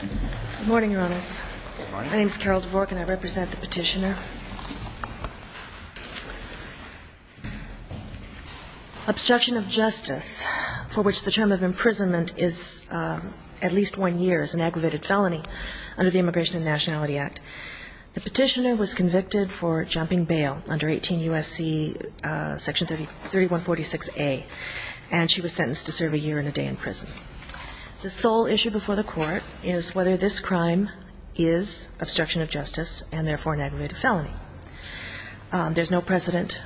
Good morning, Your Honors. My name is Carol Dvork and I represent the Petitioner. Obstruction of justice for which the term of imprisonment is at least one year is an aggravated felony under the Immigration and Nationality Act. The Petitioner was convicted for jumping bail under 18 U.S.C. section 3146A and she was sentenced to serve a year and a day in prison. The sole issue before the Court is whether this crime is obstruction of justice and therefore an aggravated felony. There's no precedent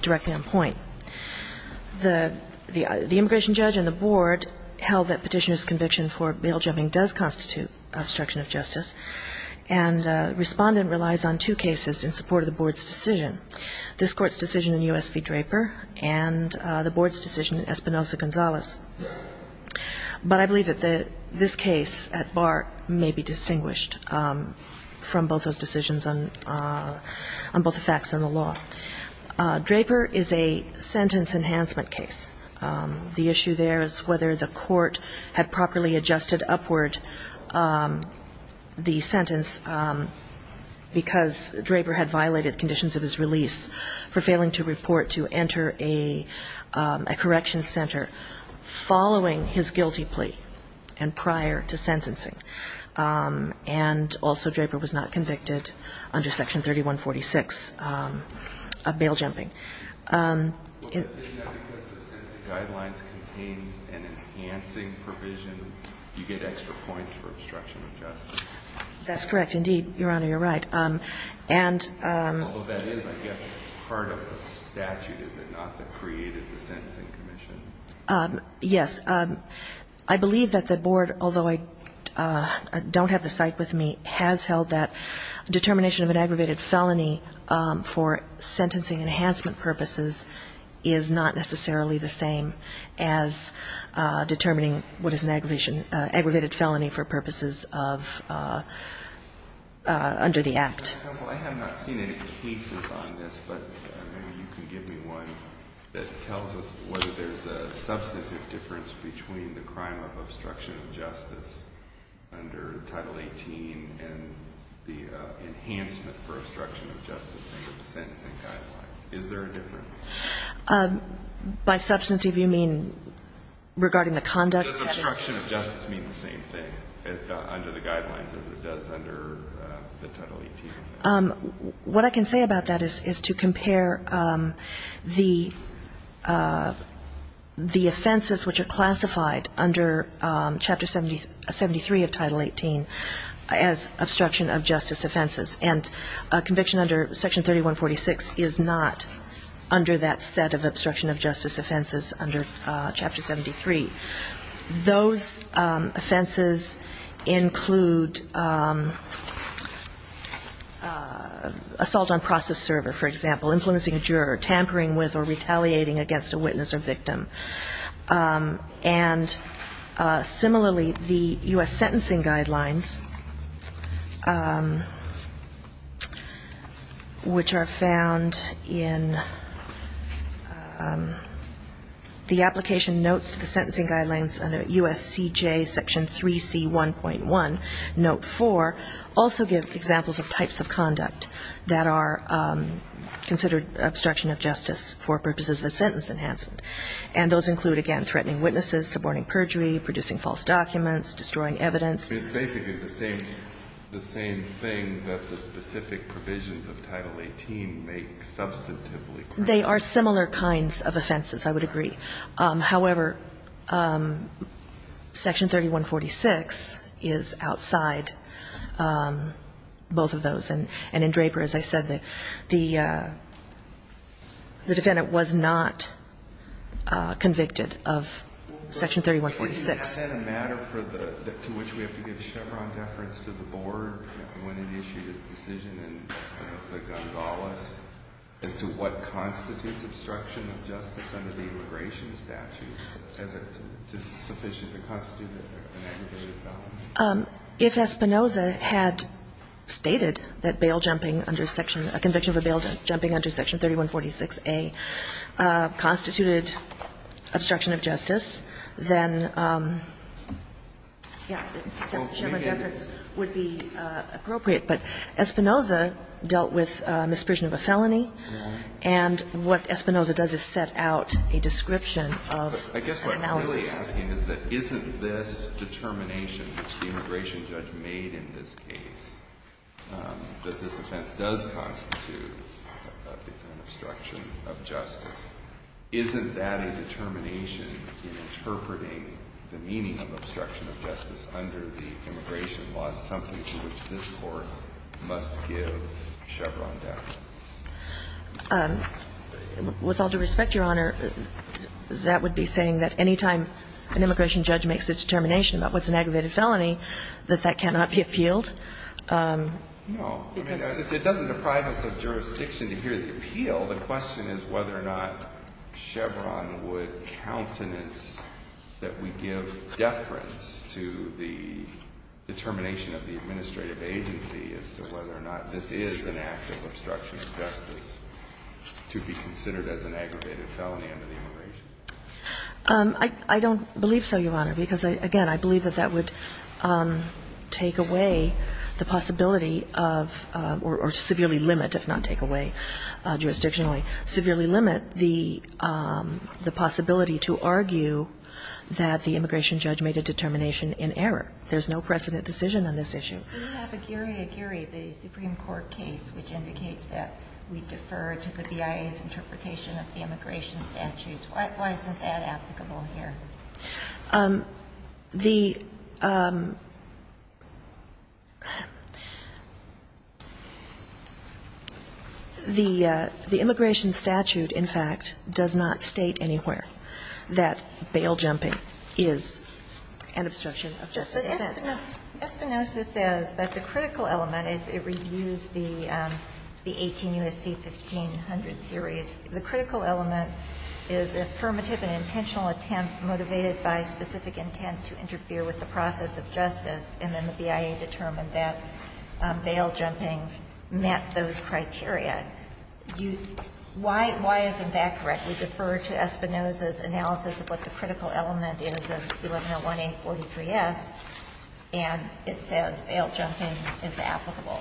directly on point. The immigration judge and the Board held that Petitioner's conviction for bail jumping does constitute obstruction of justice and Respondent relies on two cases in support of the Board's decision. This Court's decision in U.S. v. Draper and the Board's decision in Espinosa-Gonzalez. But I believe that this case at bar may be distinguished from both those decisions on both the facts and the law. Draper is a sentence enhancement case. The issue there is whether the Court had properly adjusted upward the sentence because Draper had violated conditions of his release for failing to report to enter a corrections center following his guilty plea and prior to sentencing. And also Draper was not convicted under section 3146 of bail jumping. Because the sentencing guidelines contains an enhancing provision, you get extra points for obstruction of justice. That's correct, indeed, Your Honor, you're right. Although that is, I guess, part of the statute, is it not, that created the sentencing commission? Yes. I believe that the Board, although I don't have the site with me, has held that determination of an aggravated felony for sentencing enhancement purposes is not necessarily the same as determining what is an aggravated felony for purposes of under the Act. I have not seen any cases on this, but maybe you can give me one that tells us whether there's a substantive difference between the crime of obstruction of justice under Title 18 and the enhancement for obstruction of justice under the sentencing guidelines. Is there a difference? By substantive, you mean regarding the conduct? Does obstruction of justice mean the same thing under the guidelines as it does under the Title 18? What I can say about that is to compare the offenses which are classified under Chapter 73 of Title 18 as obstruction of justice offenses. And a conviction under Section 3146 is not under that set of obstruction of justice offenses under Chapter 73. Those offenses include assault on process server, for example, influencing a juror, tampering with or retaliating against a witness or victim. And similarly, the U.S. sentencing guidelines, which are found in the application notes to the sentencing guidelines under USCJ Section 3C1.1, Note 4, also give examples of types of conduct that are considered obstruction of justice for purposes of a sentence enhancement. And those include, again, threatening witnesses, suborning perjury, producing false documents, destroying evidence. It's basically the same thing that the specific provisions of Title 18 make substantively correct. They are similar kinds of offenses, I would agree. However, Section 3146 is outside both of those. And in Draper, as I said, the defendant was not convicted of Section 3146. Is that a matter to which we have to give Chevron deference to the board when it issued its decision in Espinoza-Gonzalez as to what constitutes obstruction of justice under the immigration statutes? Is it sufficient to constitute an aggravated felony? If Espinoza had stated that bail jumping under Section – a conviction for bail jumping under Section 3146A constituted obstruction of justice, then, yeah, Chevron deference would be appropriate. But Espinoza dealt with misprision of a felony. And what Espinoza does is set out a description of an analysis. And what I'm really asking is that isn't this determination which the immigration judge made in this case, that this offense does constitute an obstruction of justice, isn't that a determination in interpreting the meaning of obstruction of justice under the immigration laws, something to which this Court must give Chevron deference? With all due respect, Your Honor, that would be saying that any time an immigration judge makes a determination about what's an aggravated felony, that that cannot be appealed? No. It doesn't deprive us of jurisdiction to hear the appeal. The question is whether or not Chevron would countenance that we give deference to the determination of the administrative agency as to whether or not this is an act of obstruction of justice to be considered as an aggravated felony under the immigration law. I don't believe so, Your Honor, because, again, I believe that that would take away the possibility of or severely limit, if not take away jurisdictionally, severely limit the possibility to argue that the immigration judge made a determination in error. There's no precedent decision on this issue. We have Aguirre-Aguirre, the Supreme Court case, which indicates that we defer to the BIA's interpretation of the immigration statutes. Why isn't that applicable here? The immigration statute, in fact, does not state anywhere that bail jumping is an obstruction of justice offense. Espinosa says that the critical element, it reviews the 18 U.S.C. 1500 series, the critical element is affirmative and intentional attempt motivated by specific intent to interfere with the process of justice, and then the BIA determined that bail jumping met those criteria. Why isn't that correct? We defer to Espinosa's analysis of what the critical element is of 1101A43S. And it says bail jumping is applicable.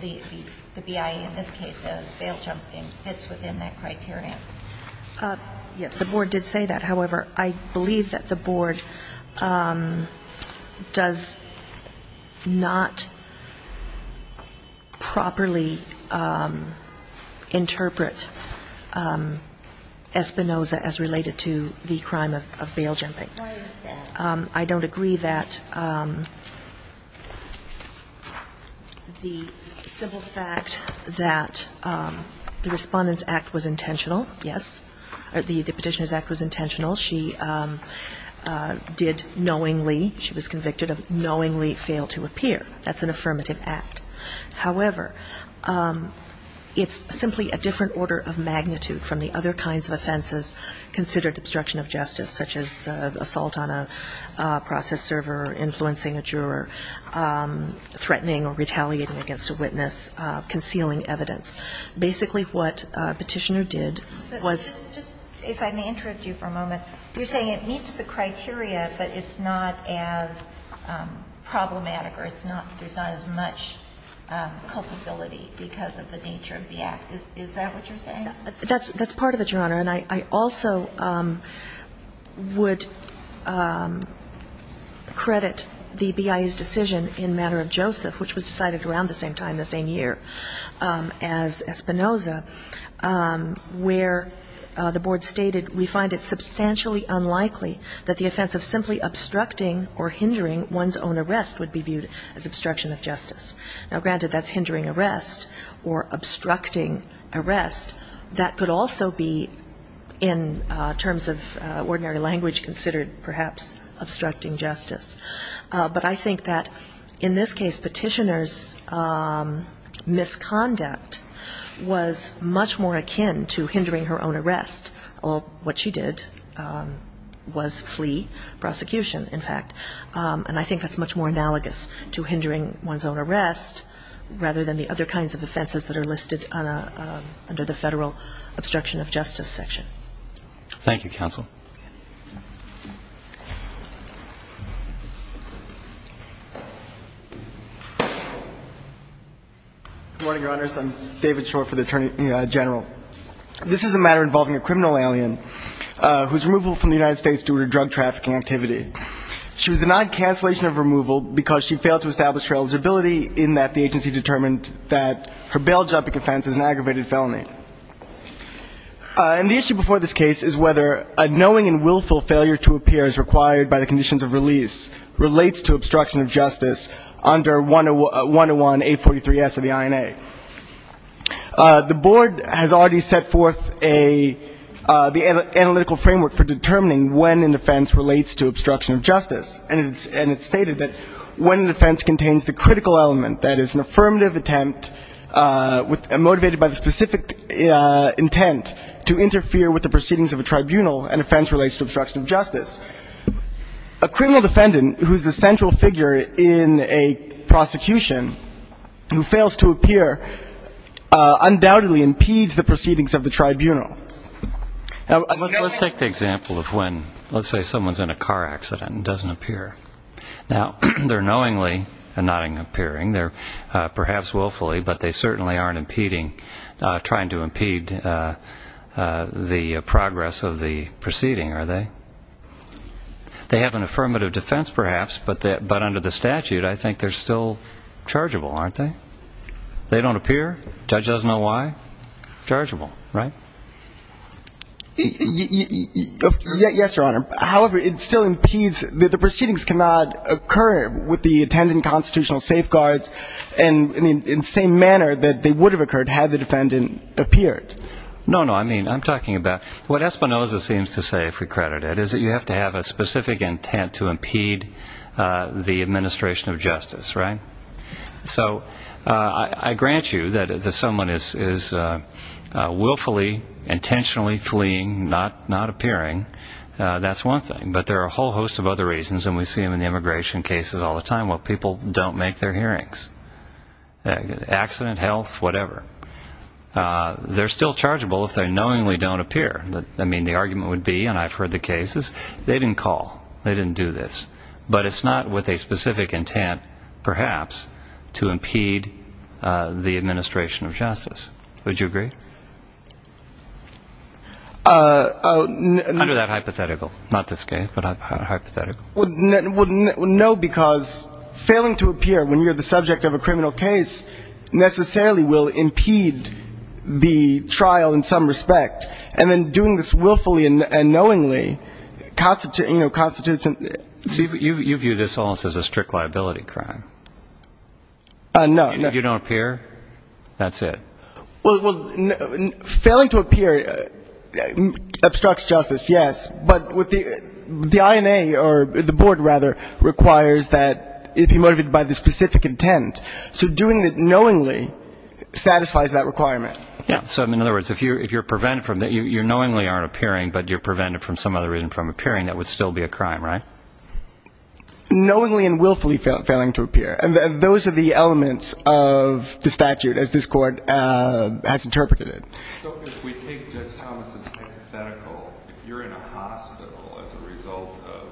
The BIA in this case says bail jumping fits within that criteria. Yes, the board did say that. However, I believe that the board does not properly interpret Espinosa as related to the crime of bail jumping. Why is that? I don't agree that the simple fact that the Respondent's Act was intentional, yes, the Petitioner's Act was intentional. She did knowingly, she was convicted of knowingly fail to appear. That's an affirmative act. However, it's simply a different order of magnitude from the other kinds of offenses considered obstruction of justice, such as assault on a process server, influencing a juror, threatening or retaliating against a witness, concealing evidence. Basically what Petitioner did was ---- But just if I may interrupt you for a moment. You're saying it meets the criteria, but it's not as problematic or it's not, there's not as much culpability because of the nature of the act. That's part of it, Your Honor. And I also would credit the BIA's decision in Manner of Joseph, which was decided around the same time, the same year as Espinosa, where the board stated, we find it substantially unlikely that the offense of simply obstructing or hindering one's own arrest would be viewed as obstruction of justice. Now, granted, that's hindering arrest or obstructing arrest. That could also be, in terms of ordinary language, considered perhaps obstructing justice. But I think that in this case, Petitioner's misconduct was much more akin to hindering her own arrest. What she did was flee prosecution, in fact, and I think that's much more analogous to hindering one's own arrest, rather than the other kinds of offenses that are listed under the federal obstruction of justice section. Thank you, Counsel. Good morning, Your Honors. I'm David Shore for the Attorney General. This is a matter involving a criminal alien who's removable from the United States due to drug trafficking activity. She was denied cancellation of removal because she failed to establish her eligibility in that the agency determined that her bail jumping offense is an aggravated felony. And the issue before this case is whether a knowing and willful failure to appear as required by the conditions of release relates to obstruction of justice under 101A43S of the INA. The board has already set forth a analytical framework for determining when an offense relates to obstruction of justice, and it's stated that when an offense contains the critical element, that is, an affirmative attempt motivated by the specific intent to interfere with the proceedings of a tribunal, an offense relates to obstruction of justice. A criminal defendant who's the central figure in a prosecution who fails to appear undoubtedly impedes the proceedings of the tribunal. Now, let's take the example of when, let's say someone's in a car accident and doesn't appear. Now, they're knowingly not appearing. They're perhaps willfully, but they certainly aren't impeding, trying to impede the progress of the proceeding, are they? They have an affirmative defense, perhaps, but under the statute, I think they're still chargeable, aren't they? They don't appear. Judge doesn't know why. Chargeable, right? Yes, Your Honor. However, it still impedes that the proceedings cannot occur with the intended constitutional safeguards in the same manner that they would have occurred had the defendant appeared. No, no. I mean, I'm talking about what Espinoza seems to say, if we credit it, is that you have to have a specific intent to impede the administration of justice, right? So I grant you that if someone is willfully, intentionally fleeing, not appearing, that's one thing. But there are a whole host of other reasons, and we see them in the immigration cases all the time, where people don't make their hearings. Accident health, whatever. They're still chargeable if they knowingly don't appear. I mean, the argument would be, and I've heard the cases, they didn't call. They didn't do this. But it's not with a specific intent, perhaps, to impede the administration of justice. Would you agree? Under that hypothetical. Not this case, but hypothetical. No, because failing to appear when you're the subject of a criminal case necessarily will impede the trial in some respect. And then doing this willfully and knowingly constitutes and You view this almost as a strict liability crime. No. You don't appear? That's it. Well, failing to appear obstructs justice, yes. But the INA, or the board, rather, requires that it be motivated by the specific intent. So doing it knowingly satisfies that requirement. Yeah. So in other words, if you're prevented from that, you knowingly aren't appearing, but you're prevented from some other reason from appearing, that would still be a crime, right? Knowingly and willfully failing to appear. Those are the elements of the statute, as this court has interpreted it. So if we take Judge Thomas's hypothetical, if you're in a hospital as a result of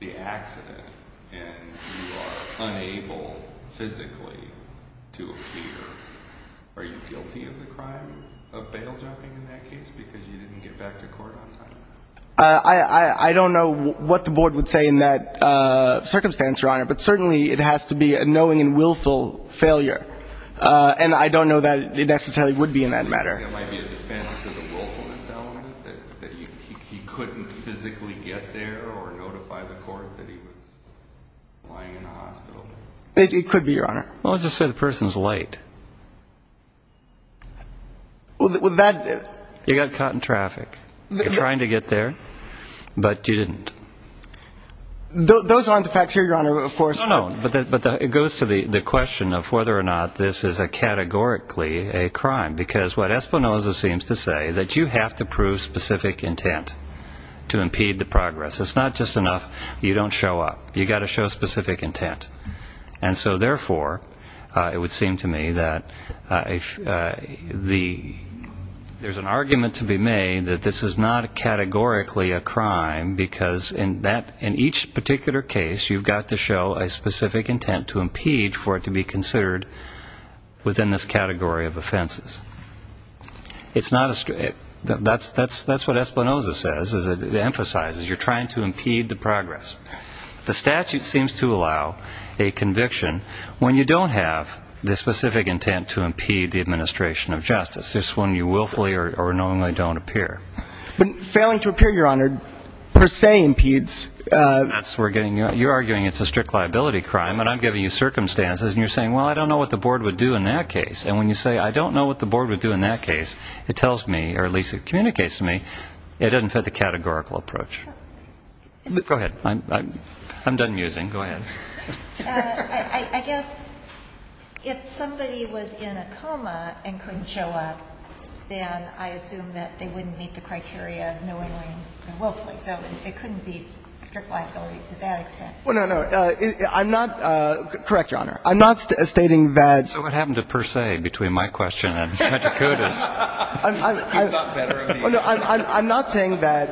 the accident and you are unable physically to appear, are you liable for liability of the crime of bail jumping in that case because you didn't get back to court on time? I don't know what the board would say in that circumstance, Your Honor, but certainly it has to be a knowing and willful failure. And I don't know that it necessarily would be in that matter. It might be a defense to the willfulness element, that he couldn't physically get there or notify the court that he was lying in a hospital. It could be, Your Honor. Well, let's just say the person's late. Well, that... You got caught in traffic. You're trying to get there, but you didn't. Those aren't the facts here, Your Honor, of course. No, no. But it goes to the question of whether or not this is categorically a crime because what Espinoza seems to say, that you have to prove specific intent to impede the progress. It's not just enough you don't show up. You've got to show specific intent. And so, therefore, it would seem to me that there's an argument to be made that this is not categorically a crime because in each particular case, you've got to show a specific intent to impede for it to be considered within this category of offenses. That's what Espinoza says. It emphasizes you're trying to impede the progress. The statute seems to allow a conviction when you don't have the specific intent to impede the administration of justice, just when you willfully or knowingly don't appear. But failing to appear, Your Honor, per se impedes. That's where you're arguing it's a strict liability crime, and I'm giving you circumstances, and you're saying, well, I don't know what the board would do in that case. And when you say, I don't know what the board would do in that case, it tells me, or at least it communicates to me, it doesn't fit the categorical approach. Go ahead. I'm done musing. Go ahead. I guess if somebody was in a coma and couldn't show up, then I assume that they wouldn't meet the criteria knowingly or willfully. So it couldn't be strict liability to that extent. Well, no, no. I'm not – correct, Your Honor. I'm not stating that – So what happened to per se between my question and Medicode is – He's not better of an answer. I'm not saying that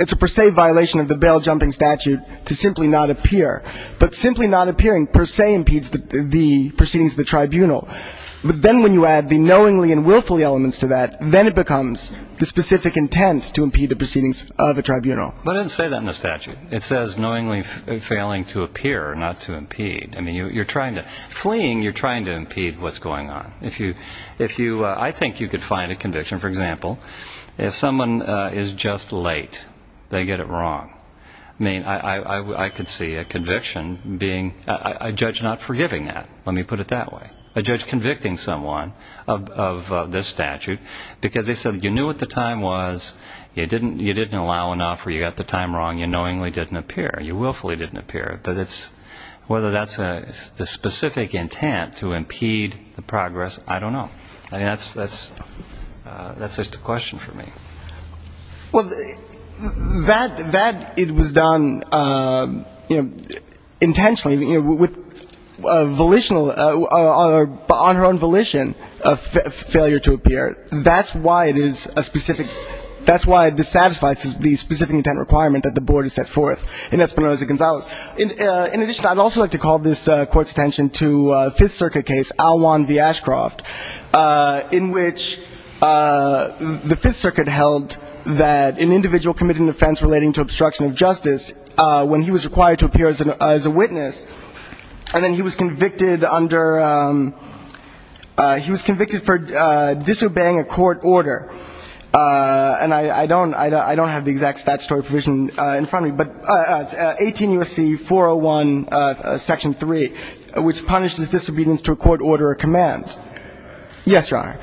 it's a per se violation of the bail-jumping statute to simply not appear. But simply not appearing per se impedes the proceedings of the tribunal. But then when you add the knowingly and willfully elements to that, then it becomes the specific intent to impede the proceedings of a tribunal. But it doesn't say that in the statute. It says knowingly failing to appear, not to impede. I mean, you're trying to – fleeing, you're trying to impede what's going on. I think you could find a conviction, for example, if someone is just late, they get it wrong. I mean, I could see a conviction being – a judge not forgiving that, let me put it that way. A judge convicting someone of this statute because they said you knew what the time was, you didn't allow enough or you got the time wrong, you knowingly didn't appear, you willfully didn't appear. But it's – whether that's the specific intent to impede the progress, I don't know. I mean, that's just a question for me. Well, that it was done intentionally with volitional – on her own volition of failure to appear. That's why it is a specific – that's why this satisfies the specific intent requirement that the board has set forth. In addition, I'd also like to call this court's attention to a Fifth Circuit case, Aljuan v. Ashcroft, in which the Fifth Circuit held that an individual committed an offense relating to obstruction of justice when he was required to appear as a witness, and then he was convicted under – he was convicted for disobeying a court order. And I don't have the exact statutory provision in front of me, but 18 U.S.C. 401, Section 3, which punishes disobedience to a court order or command. Yes, Your Honor.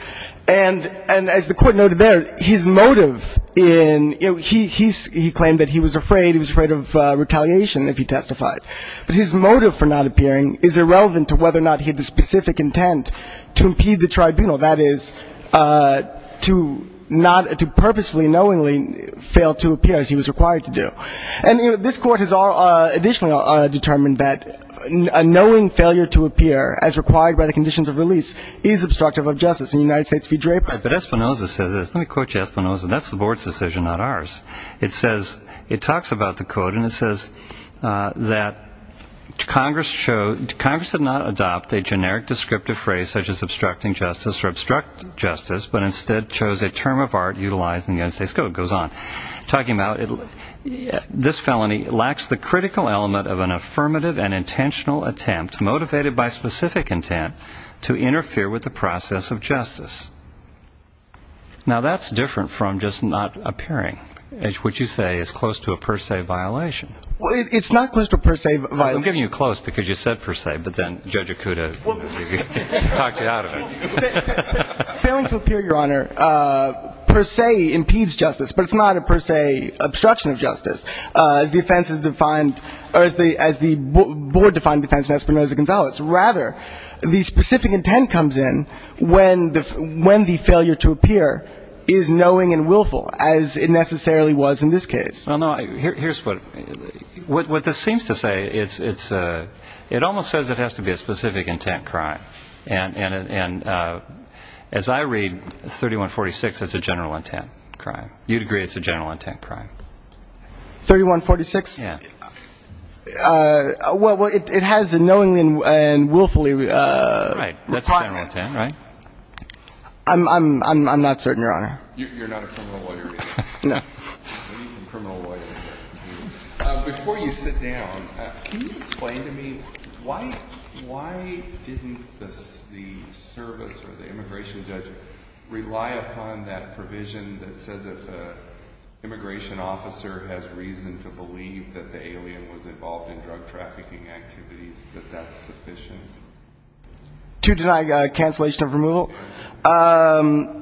And as the court noted there, his motive in – he claimed that he was afraid. He was afraid of retaliation if he testified. But his motive for not appearing is irrelevant to whether or not he had the specific intent to impede the tribunal, that is, to not – to purposefully, knowingly fail to appear as he was required to do. And, you know, this court has additionally determined that a knowing failure to appear as required by the conditions of release is obstructive of justice. In the United States v. Draper. But Espinoza says this. Let me quote you Espinoza. That's the board's decision, not ours. It says – it talks about the code, and it says that Congress showed – or obstruct justice, but instead chose a term of art utilized in the United States code. It goes on. Talking about this felony lacks the critical element of an affirmative and intentional attempt motivated by specific intent to interfere with the process of justice. Now, that's different from just not appearing, which you say is close to a per se violation. Well, it's not close to a per se violation. I'm giving you close because you said per se, but then Judge Acuda talked you out of it. Failing to appear, Your Honor, per se impedes justice, but it's not a per se obstruction of justice. The offense is defined – or as the board defined defense in Espinoza-Gonzalez. Rather, the specific intent comes in when the failure to appear is knowing and willful, as it necessarily was in this case. Well, no, here's what – what this seems to say, it's – it almost says it has to be a specific intent crime. And as I read 3146, it's a general intent crime. You'd agree it's a general intent crime. 3146? Yeah. Well, it has a knowingly and willfully – Right. That's a general intent, right? I'm not certain, Your Honor. You're not a criminal lawyer either? No. I need some criminal lawyers. Before you sit down, can you explain to me why didn't the service or the immigration judge rely upon that provision that says if an immigration officer has reason to believe that the alien was involved in drug trafficking activities, that that's sufficient? To deny cancellation of removal? Yeah.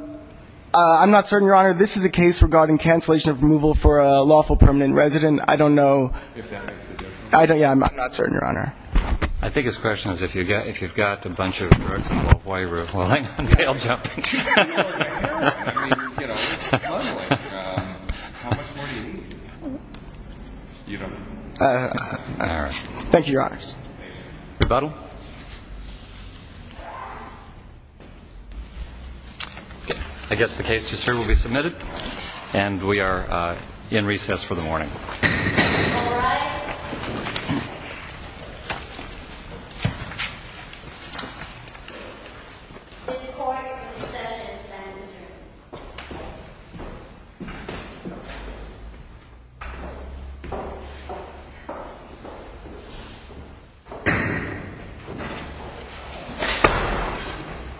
I'm not certain, Your Honor. This is a case regarding cancellation of removal for a lawful permanent resident. I don't know. If that makes a difference. I don't – yeah, I'm not certain, Your Honor. I think his question is if you've got a bunch of drugs involved, why – well, hang on. I'll jump in. I mean, you know, how much more do you need? You don't know. All right. Thank you, Your Honors. Rebuttal. I guess the case to serve will be submitted, and we are in recess for the morning. All rise. Thank you. This court concessions. That is adjourned.